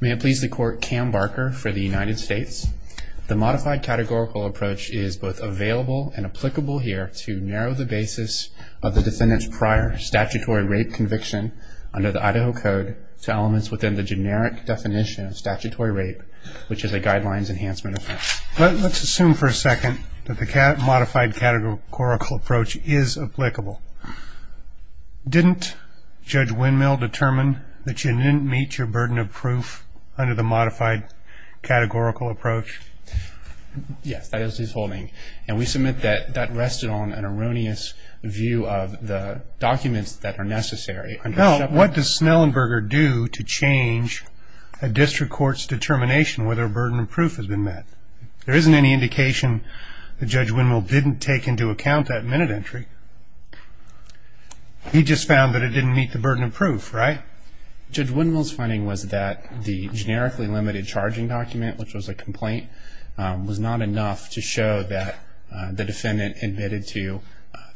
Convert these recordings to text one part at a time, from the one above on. May it please the court, Cam Barker for the United States. The modified categorical approach is both available and applicable here to narrow the basis of the defendant's prior statutory rape conviction under the Idaho Code to elements within the generic definition of statutory rape, which is a Guidelines Enhancement Offense. Let's assume for a second that the modified categorical approach is applicable. Didn't Judge Windmill determine that you didn't meet your burden of proof under the modified categorical approach? Yes, that is his holding. And we submit that that rested on an erroneous view of the documents that are necessary. Well, what does Snellenberger do to change a district court's determination whether a burden of proof has been met? There isn't any indication that Judge Windmill didn't take into account that minute entry. He just found that it didn't meet the burden of proof, right? Judge Windmill's finding was that the generically limited charging document, which was a complaint, was not enough to show that the defendant admitted to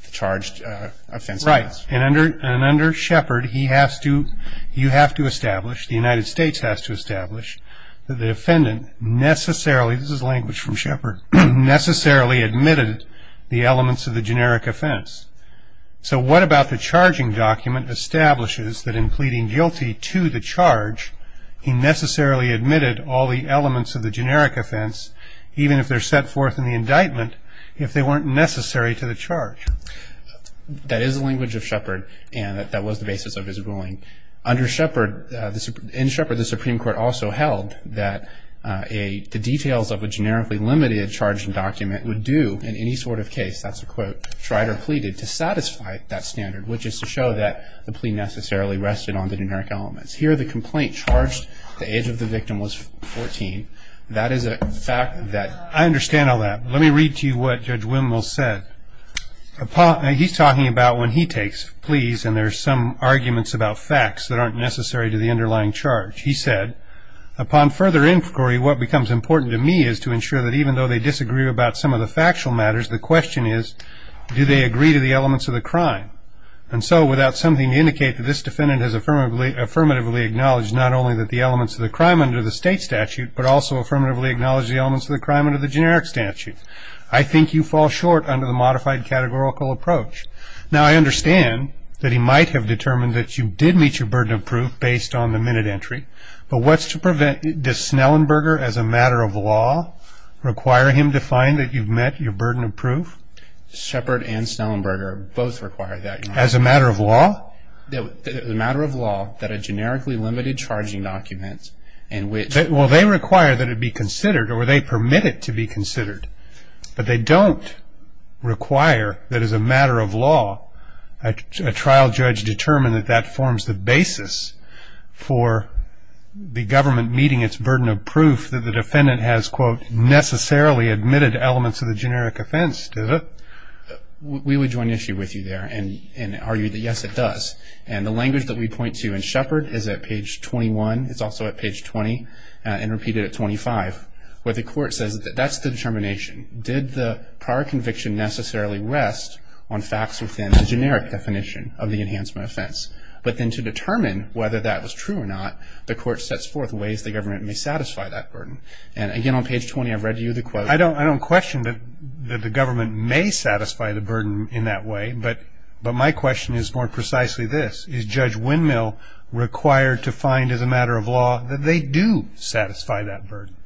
the charged offense. Right. And under Shepard, he has to, you have to establish, the United States has to establish, that the defendant necessarily, this is language from Shepard, necessarily admitted the elements of the generic offense. So what about the charging document establishes that in pleading guilty to the charge, he necessarily admitted all the elements of the generic offense, even if they're set forth in the indictment, if they weren't necessary to the charge? That is the language of Shepard, and that was the basis of his ruling. Under Shepard, in Shepard, the Supreme Court also held that the details of a generically limited charging document would do in any sort of case, that's a quote, tried or pleaded, to satisfy that standard, which is to show that the plea necessarily rested on the generic elements. Here, the complaint charged the age of the victim was 14. That is a fact that... I understand all that. Let me read to you what Judge Windmill said. He's talking about when he takes pleas, and there's some arguments about facts that aren't necessary to the underlying charge. He said, upon further inquiry, what becomes important to me is to ensure that even though they disagree about some of the factual matters, the question is, do they agree to the elements of the crime? And so, without something to indicate that this defendant has affirmatively acknowledged not only that the elements of the crime under the state statute, but also affirmatively acknowledged the elements of the crime under the generic statute. I think you fall short under the modified categorical approach. Now, I understand that he might have determined that you did meet your burden of proof based on the minute entry, but what's to prevent... does Snellenberger, as a matter of law, require him to find that you've met your burden of proof? Shepard and Snellenberger both require that. As a matter of law? As a matter of law, that a generically limited charging document in which... Well, they require that it be considered, or they permit it to be considered, but they don't require that as a matter of law, a trial judge determine that that forms the basis for the government meeting its burden of proof that the defendant has, quote, necessarily admitted elements of the generic offense, does it? We would join issue with you there and argue that, yes, it does. And the language that we point to in Shepard is at page 21, it's also at page 20, and repeated at 25, where the court says that that's the determination. Did the prior conviction necessarily rest on facts within the generic definition of the enhancement offense? But then to determine whether that was true or not, the court sets forth ways the government may satisfy that burden. And again, on page 20, I've read you the quote. I don't question that the government may satisfy the burden in that way, but my question is more precisely this. Is Judge Windmill required to find as a matter of law that they do satisfy that burden?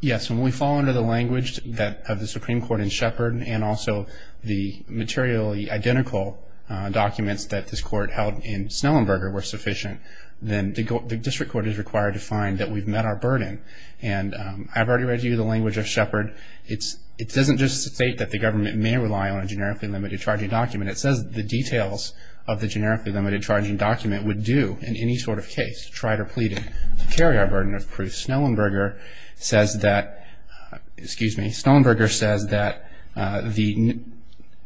Yes. When we fall under the language of the Supreme Court in Shepard and also the materially identical documents that this court held in Snellenberger were sufficient, then the district court is required to find that we've met our burden. And I've already read you the language of Shepard. It doesn't just state that the government may rely on a generically limited charging document. It says the details of the generically limited charging document would do in any sort of case to try to plead to carry our burden of proof. Snellenberger says that the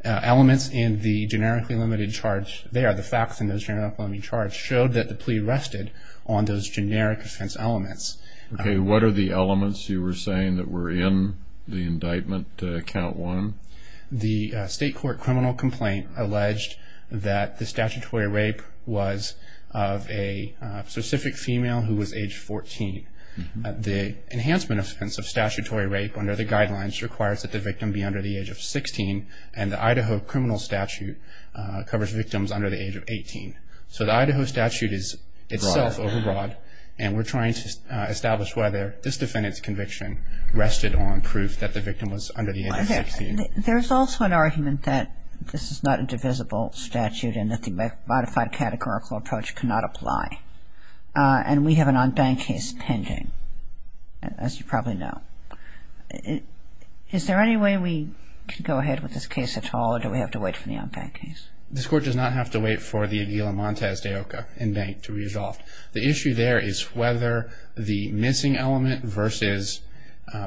elements in the generically limited charge there, the facts in those generically limited charges, showed that the plea rested on those generic offense elements. Okay. What are the elements you were saying that were in the indictment, count one? The state court criminal complaint alleged that the statutory rape was of a specific female who was age 14. The enhancement offense of statutory rape under the guidelines requires that the victim be under the age of 16, and the Idaho criminal statute covers victims under the age of 18. So the Idaho statute is itself overbroad, and we're trying to establish whether this defendant's conviction rested on proof that the victim was under the age of 16. There's also an argument that this is not a divisible statute and that the modified categorical approach cannot apply. And we have an en banc case pending, as you probably know. Is there any way we can go ahead with this case at all, or do we have to wait for the en banc case? This court does not have to wait for the Aguila Montes de Oca en banc to resolve. The issue there is whether the missing element versus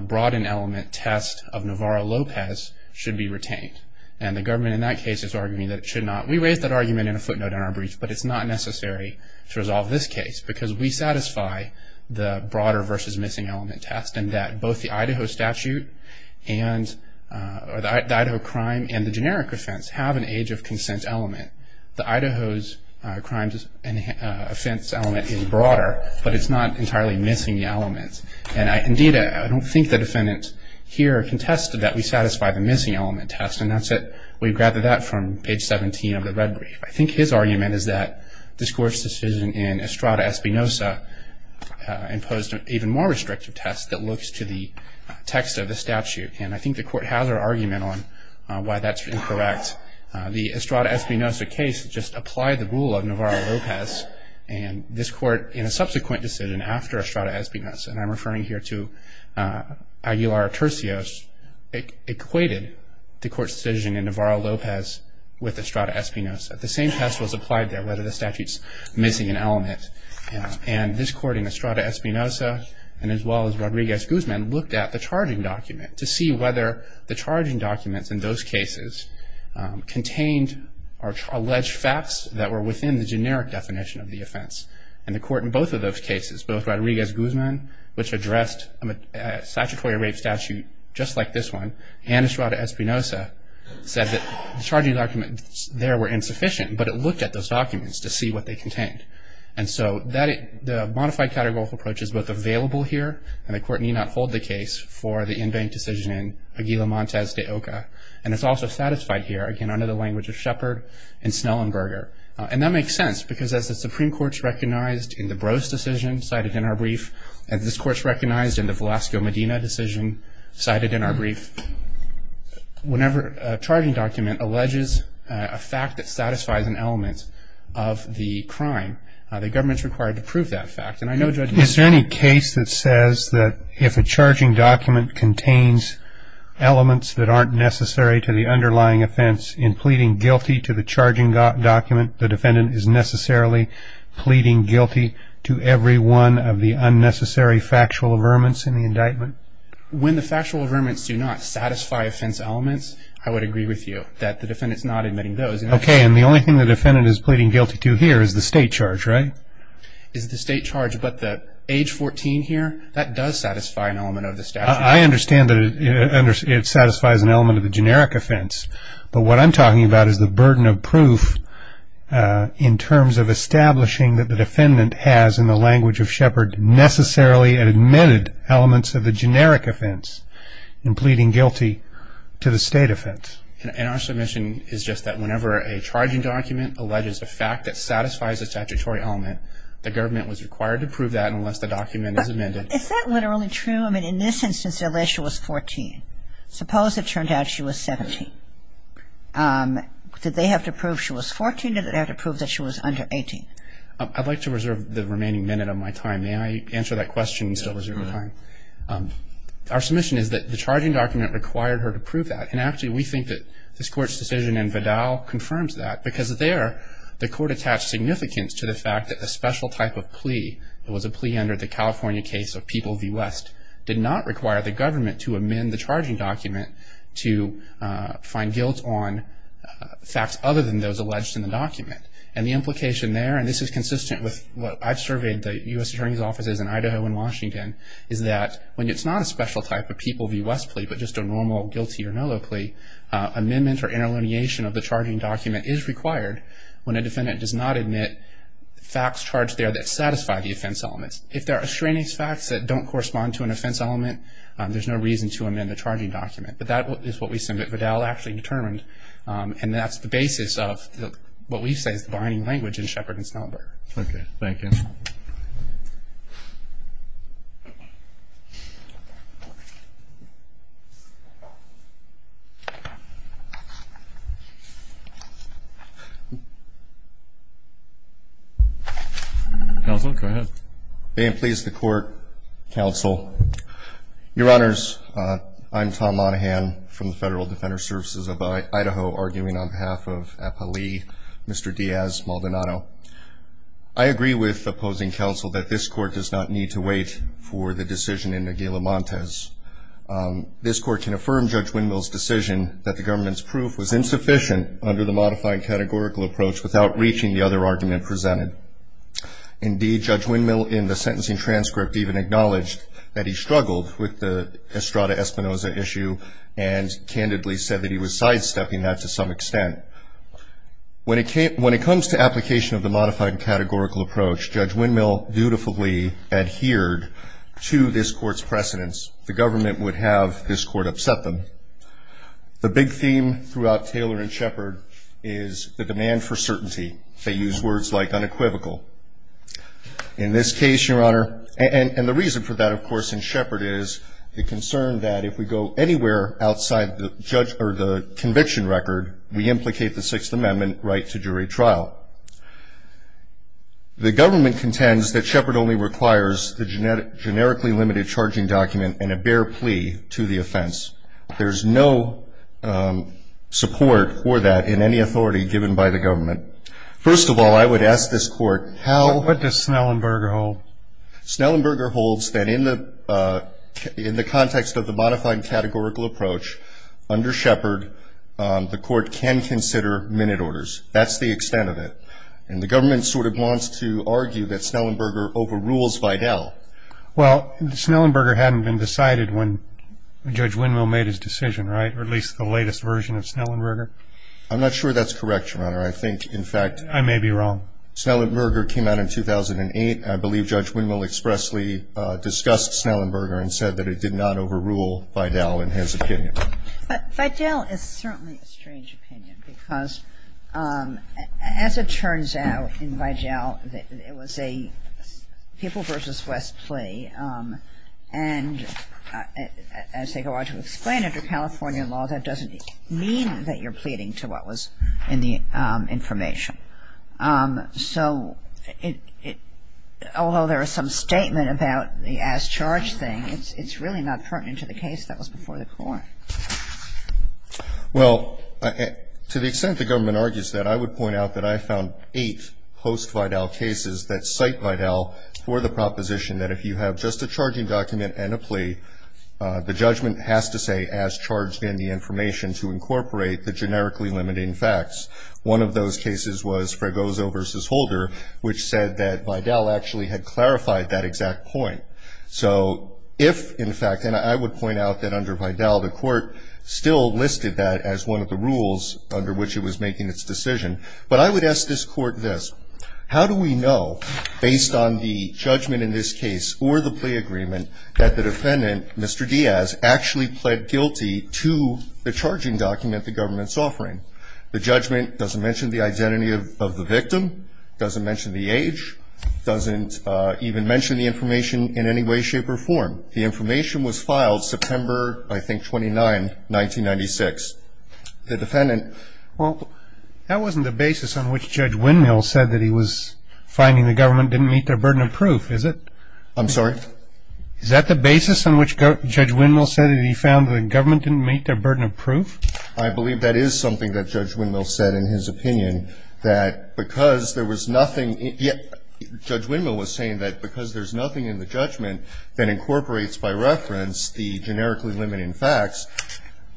broadened element test of Navarro-Lopez should be retained. And the government in that case is arguing that it should not. We raised that argument in a footnote in our brief, but it's not necessary to resolve this case, because we satisfy the broader versus missing element test, and that both the Idaho statute and the Idaho crime and the generic offense have an age of consent element. The Idaho's crimes and offense element is broader, but it's not entirely missing the elements. And, indeed, I don't think the defendant here contested that we satisfy the missing element test, and that's it. We've gathered that from page 17 of the red brief. I think his argument is that this court's decision in Estrada-Espinosa imposed an even more restrictive test that looks to the text of the statute. And I think the court has her argument on why that's incorrect. The Estrada-Espinosa case just applied the rule of Navarro-Lopez, and this court, in a subsequent decision after Estrada-Espinosa, and I'm referring here to Aguilar-Turcios, equated the court's decision in Navarro-Lopez with Estrada-Espinosa. The same test was applied there, whether the statute's missing an element. And this court, in Estrada-Espinosa, and as well as Rodriguez-Guzman, looked at the charging document to see whether the charging documents in those cases contained or alleged facts that were within the generic definition of the offense. And the court in both of those cases, both Rodriguez-Guzman, which addressed a statutory rape statute just like this one, and Estrada-Espinosa said that the charging documents there were insufficient, but it looked at those documents to see what they contained. And so the modified categorical approach is both available here, and the court need not hold the case, for the in-bank decision in Aguilar-Montes de Oca. And it's also satisfied here, again, under the language of Shepard and Snellenberger. And that makes sense, because as the Supreme Court's recognized in the Brose decision cited in our brief, as this Court's recognized in the Velasco-Medina decision cited in our brief, whenever a charging document alleges a fact that satisfies an element of the crime, the government's required to prove that fact. And I know Judge Meek. Is there any case that says that if a charging document contains elements that aren't necessary to the underlying offense in pleading guilty to the charging document, the defendant is necessarily pleading guilty to every one of the unnecessary factual affirmants in the indictment? When the factual affirmants do not satisfy offense elements, I would agree with you that the defendant's not admitting those. Okay. And the only thing the defendant is pleading guilty to here is the state charge, right? Is the state charge, but the age 14 here, that does satisfy an element of the statute. I understand that it satisfies an element of the generic offense. But what I'm talking about is the burden of proof in terms of establishing that the defendant has, in the language of Shepard, necessarily admitted elements of the generic offense in pleading guilty to the state offense. And our submission is just that whenever a charging document alleges a fact that satisfies a statutory element, the government was required to prove that unless the document is amended. Is that literally true? I mean, in this instance, unless she was 14. Suppose it turned out she was 17. Did they have to prove she was 14, or did they have to prove that she was under 18? I'd like to reserve the remaining minute of my time. May I answer that question and still reserve my time? Our submission is that the charging document required her to prove that. And actually, we think that this Court's decision in Vidal confirms that, because there the Court attached significance to the fact that a special type of plea, that was a plea under the California case of People v. West, did not require the government to amend the charging document to find guilt on facts other than those alleged in the document. And the implication there, and this is consistent with what I've surveyed the U.S. Attorney's offices in Idaho and Washington, is that when it's not a special type of People v. West plea, but just a normal guilty or no-law plea, amendment or interlineation of the charging document is required when a defendant does not admit facts charged there that satisfy the offense elements. If there are extraneous facts that don't correspond to an offense element, there's no reason to amend the charging document. But that is what we assume that Vidal actually determined, and that's the basis of what we say is the binding language in Shepard and Snellberg. Okay, thank you. Counsel, go ahead. May it please the Court, Counsel, Your Honors, I'm Tom Monahan from the Federal Defender Services of Idaho, arguing on behalf of APA Lee, Mr. Diaz-Maldonado. I agree with opposing counsel that this Court does not need to wait for the decision in Aguila-Montes. This Court can affirm Judge Windmill's decision that the government's proof was insufficient under the modified categorical approach without reaching the other argument presented. Indeed, Judge Windmill, in the sentencing transcript, even acknowledged that he struggled with the Estrada-Espinoza issue and candidly said that he was sidestepping that to some extent. When it comes to application of the modified categorical approach, Judge Windmill dutifully adhered to this Court's precedence. The government would have this Court upset them. The big theme throughout Taylor and Shepard is the demand for certainty. They use words like unequivocal. In this case, Your Honor, and the reason for that, of course, in Shepard, is the concern that if we go anywhere outside the conviction record, we implicate the Sixth Amendment right to jury trial. The government contends that Shepard only requires the generically limited charging document and a bare plea to the offense. There's no support for that in any authority given by the government. First of all, I would ask this Court how — What does Snellenberger hold? Snellenberger holds that in the context of the modified categorical approach, under Shepard, the Court can consider minute orders. That's the extent of it. And the government sort of wants to argue that Snellenberger overrules Vidal. Well, Snellenberger hadn't been decided when Judge Winmill made his decision, right, or at least the latest version of Snellenberger? I'm not sure that's correct, Your Honor. I think, in fact — I may be wrong. Snellenberger came out in 2008. I believe Judge Winmill expressly discussed Snellenberger and said that it did not overrule Vidal in his opinion. But Vidal is certainly a strange opinion because, as it turns out in Vidal, it was a People v. West plea. And as they go on to explain under California law, that doesn't mean that you're pleading to what was in the information. So although there is some statement about the as-charged thing, it's really not pertinent to the case that was before the Court. Well, to the extent the government argues that, I would point out that I found eight post-Vidal cases that cite Vidal for the proposition that if you have just a charging document and a plea, the judgment has to say as-charged in the information to incorporate the generically limiting facts. One of those cases was Fragoso v. Holder, which said that Vidal actually had clarified that exact point. So if, in fact — and I would point out that under Vidal, the Court still listed that as one of the rules under which it was making its decision. But I would ask this Court this. How do we know, based on the judgment in this case or the plea agreement, that the defendant, Mr. Diaz, actually pled guilty to the charging document the government's offering? The judgment doesn't mention the identity of the victim, doesn't mention the age, doesn't even mention the information in any way, shape, or form. The information was filed September, I think, 29, 1996. The defendant — Well, that wasn't the basis on which Judge Windmill said that he was finding the government didn't meet their burden of proof, is it? I'm sorry? Is that the basis on which Judge Windmill said that he found the government didn't meet their burden of proof? I believe that is something that Judge Windmill said in his opinion, that because there was nothing — the generically limiting facts,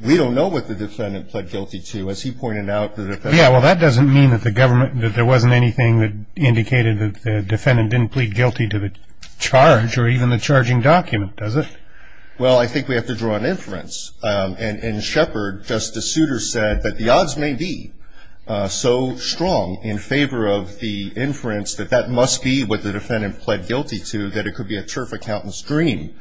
we don't know what the defendant pled guilty to. As he pointed out, the defendant — Yeah, well, that doesn't mean that the government — that there wasn't anything that indicated that the defendant didn't plead guilty to the charge or even the charging document, does it? Well, I think we have to draw an inference. And Shepard, Justice Souter, said that the odds may be so strong in favor of the inference that that must be what the defendant pled guilty to, that it could be a turf accountant's dream.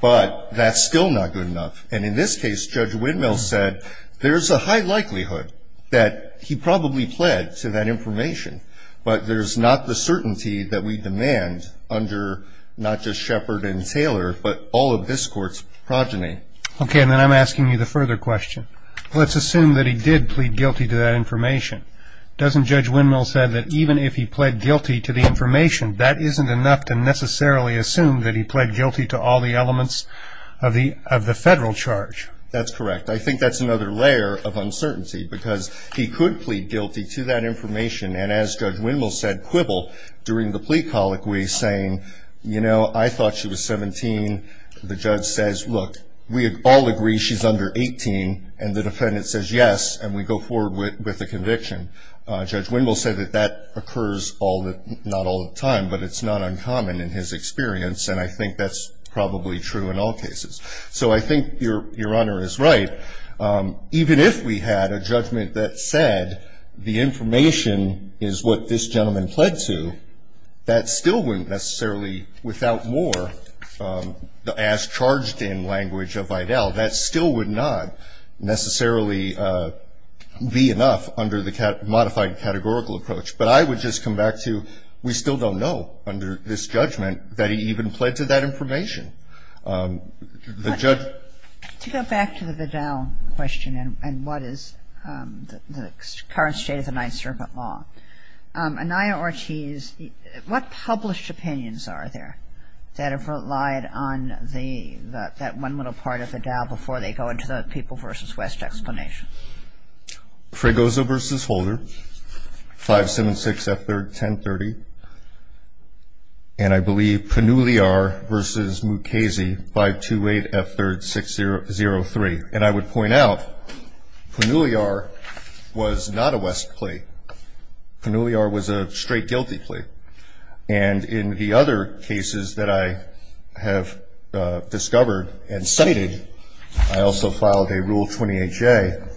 But that's still not good enough. And in this case, Judge Windmill said there's a high likelihood that he probably pled to that information. But there's not the certainty that we demand under not just Shepard and Taylor, but all of this Court's progeny. Okay, and then I'm asking you the further question. Doesn't Judge Windmill say that even if he pled guilty to the information, that isn't enough to necessarily assume that he pled guilty to all the elements of the federal charge? That's correct. I think that's another layer of uncertainty, because he could plead guilty to that information. And as Judge Windmill said quibble during the plea colloquy, saying, you know, I thought she was 17. The judge says, look, we all agree she's under 18. And the defendant says yes, and we go forward with the conviction. Judge Windmill said that that occurs not all the time, but it's not uncommon in his experience. And I think that's probably true in all cases. So I think your Honor is right. Even if we had a judgment that said the information is what this gentleman pled to, that still wouldn't necessarily, without more, as charged in language of Vidal, that still would not necessarily be enough under the modified categorical approach. But I would just come back to we still don't know under this judgment that he even pled to that information. To go back to the Vidal question and what is the current state of the Ninth Circuit law, Anaya Ortiz, what published opinions are there that have relied on that one little part of the Dow before they go into the People v. West explanation? Fregoso v. Holder, 576 F. 3rd, 1030. And I believe Panuliar v. Mukasey, 528 F. 3rd, 603. And I would point out, Panuliar was not a West plea. Panuliar was a straight guilty plea. And in the other cases that I have discovered and cited, I also filed a Rule 28J.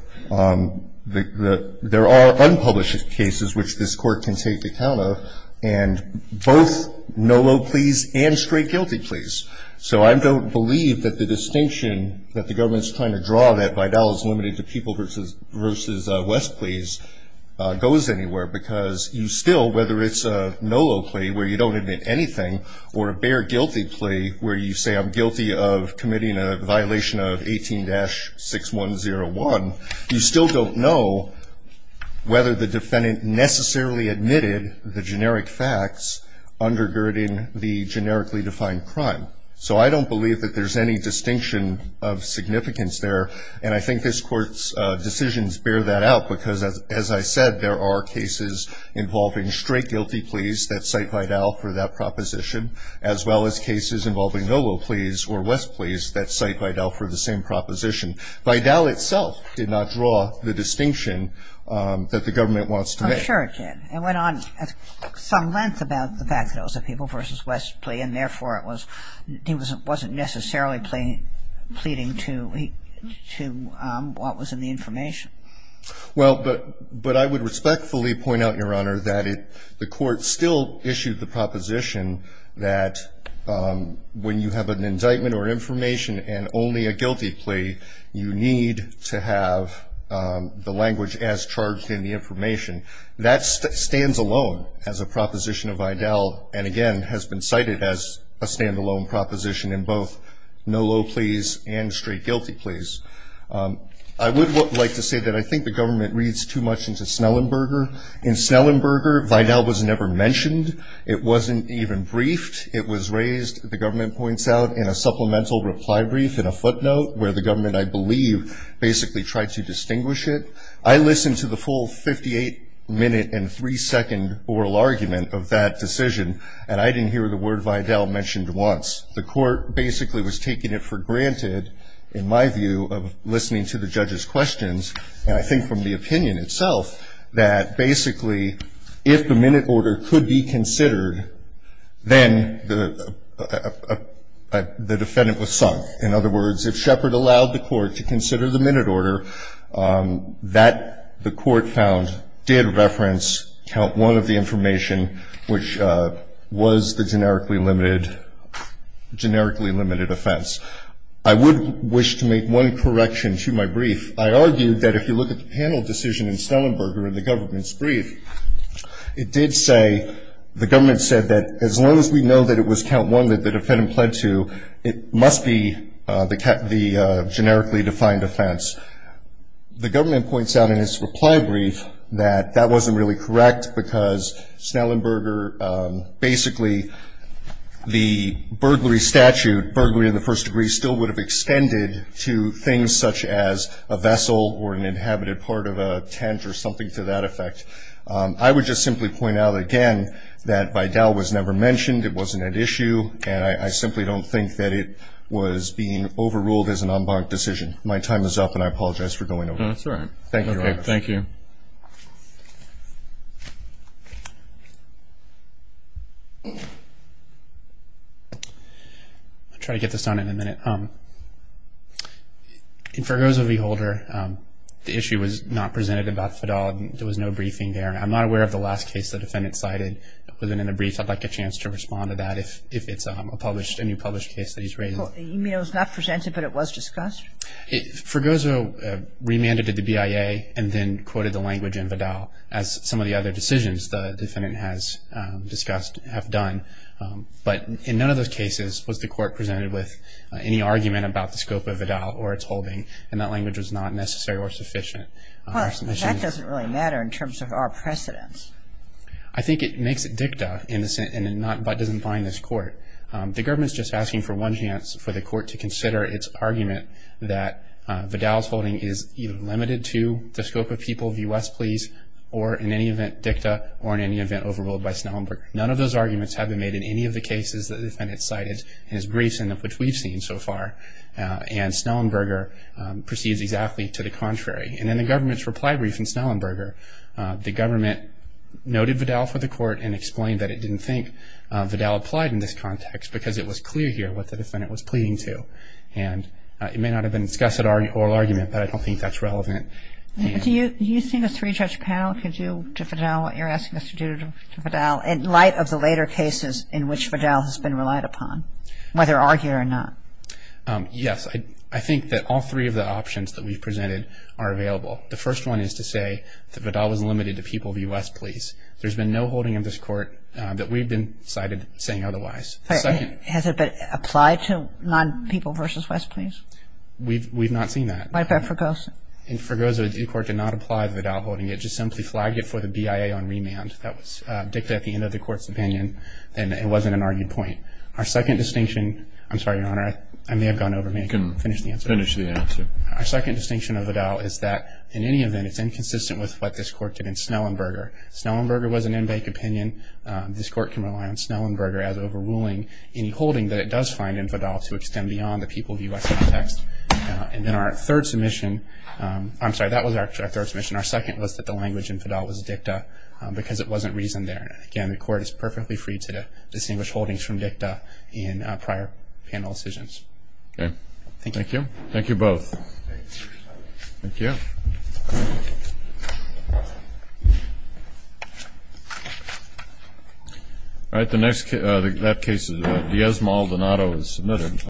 There are unpublished cases which this Court can take account of, and both no low pleas and straight guilty pleas. So I don't believe that the distinction that the government is trying to draw, that Vidal is limited to People v. West pleas, goes anywhere. Because you still, whether it's a no low plea where you don't admit anything, or a bare guilty plea where you say I'm guilty of committing a violation of 18-6101, you still don't know whether the defendant necessarily admitted the generic facts undergirding the generically defined crime. So I don't believe that there's any distinction of significance there. And I think this Court's decisions bear that out because, as I said, there are cases involving straight guilty pleas that cite Vidal for that proposition, as well as cases involving no low pleas or West pleas that cite Vidal for the same proposition. Vidal itself did not draw the distinction that the government wants to make. I'm sure it did. It went on some length about the fact that it was a People v. West plea, and therefore it was he wasn't necessarily pleading to what was in the information. Well, but I would respectfully point out, Your Honor, that the Court still issued the proposition that when you have an indictment or information and only a guilty plea, you need to have the language as charged in the information. That stands alone as a proposition of Vidal and, again, has been cited as a standalone proposition in both no low pleas and straight guilty pleas. I would like to say that I think the government reads too much into Snellenberger. In Snellenberger, Vidal was never mentioned. It wasn't even briefed. It was raised, the government points out, in a supplemental reply brief in a footnote where the government, I believe, basically tried to distinguish it. I listened to the full 58-minute and three-second oral argument of that decision, and I didn't hear the word Vidal mentioned once. The Court basically was taking it for granted, in my view, of listening to the judge's questions, and I think from the opinion itself that basically if the minute order could be considered, then the defendant was sunk. In other words, if Shepard allowed the Court to consider the minute order, that the Court found did reference count one of the information, which was the generically limited offense. I would wish to make one correction to my brief. I argued that if you look at the panel decision in Snellenberger in the government's brief, it did say, the government said that as long as we know that it was count one that the defendant pled to, it must be the generically defined offense. The government points out in its reply brief that that wasn't really correct, because Snellenberger basically the burglary statute, burglary in the first degree, still would have extended to things such as a vessel or an inhabited part of a tent or something to that effect. I would just simply point out again that Vidal was never mentioned, it wasn't at issue, and I simply don't think that it was being overruled as an en banc decision. My time is up, and I apologize for going over. That's all right. Thank you. I'll try to get this done in a minute. In Fergozzo v. Holder, the issue was not presented about Vidal. There was no briefing there. I'm not aware of the last case the defendant cited. Within a brief, I'd like a chance to respond to that if it's a published, any published case that he's raised. You mean it was not presented but it was discussed? Fergozzo remanded to the BIA and then quoted the language in Vidal as some of the other decisions the defendant has discussed, have done. But in none of those cases was the court presented with any argument about the scope of Vidal or its holding, and that language was not necessary or sufficient. Well, that doesn't really matter in terms of our precedence. I think it makes it dicta in the sense that it doesn't bind this court. The government is just asking for one chance for the court to consider its argument that Vidal's holding is either limited to the scope of people of U.S. pleas or in any event dicta or in any event overruled by Snellenburg. None of those arguments have been made in any of the cases that the defendant cited in his briefs in which we've seen so far. And Snellenburg proceeds exactly to the contrary. And in the government's reply brief in Snellenburg, the government noted Vidal for the court and explained that it didn't think Vidal applied in this context because it was clear here what the defendant was pleading to. And it may not have been discussed at oral argument, but I don't think that's relevant. Do you see this three-judge panel? Could you, to Vidal, what you're asking us to do to Vidal, in light of the later cases in which Vidal has been relied upon, whether argued or not? Yes. I think that all three of the options that we've presented are available. The first one is to say that Vidal was limited to people of U.S. pleas. There's been no holding of this court that we've been cited saying otherwise. Has it been applied to non-people versus U.S. pleas? We've not seen that. What about Fregosa? In Fregosa, the court did not apply Vidal holding. It just simply flagged it for the BIA on remand. That was dictated at the end of the court's opinion, and it wasn't an argued point. Our second distinction – I'm sorry, Your Honor, I may have gone over. May I finish the answer? Finish the answer. Our second distinction of Vidal is that, in any event, it's inconsistent with what this court did in Snellenberger. Snellenberger was an in-bank opinion. This court can rely on Snellenberger as overruling any holding that it does find in Vidal to extend beyond the people of U.S. context. And then our third submission – I'm sorry, that was actually our third submission. Our second was that the language in Vidal was dicta because it wasn't reasoned there. Again, the court is perfectly free to distinguish holdings from dicta in prior panel decisions. Thank you. Thank you. Thank you both. Thank you. All right, that case is – Diaz-Maldonado is submitted.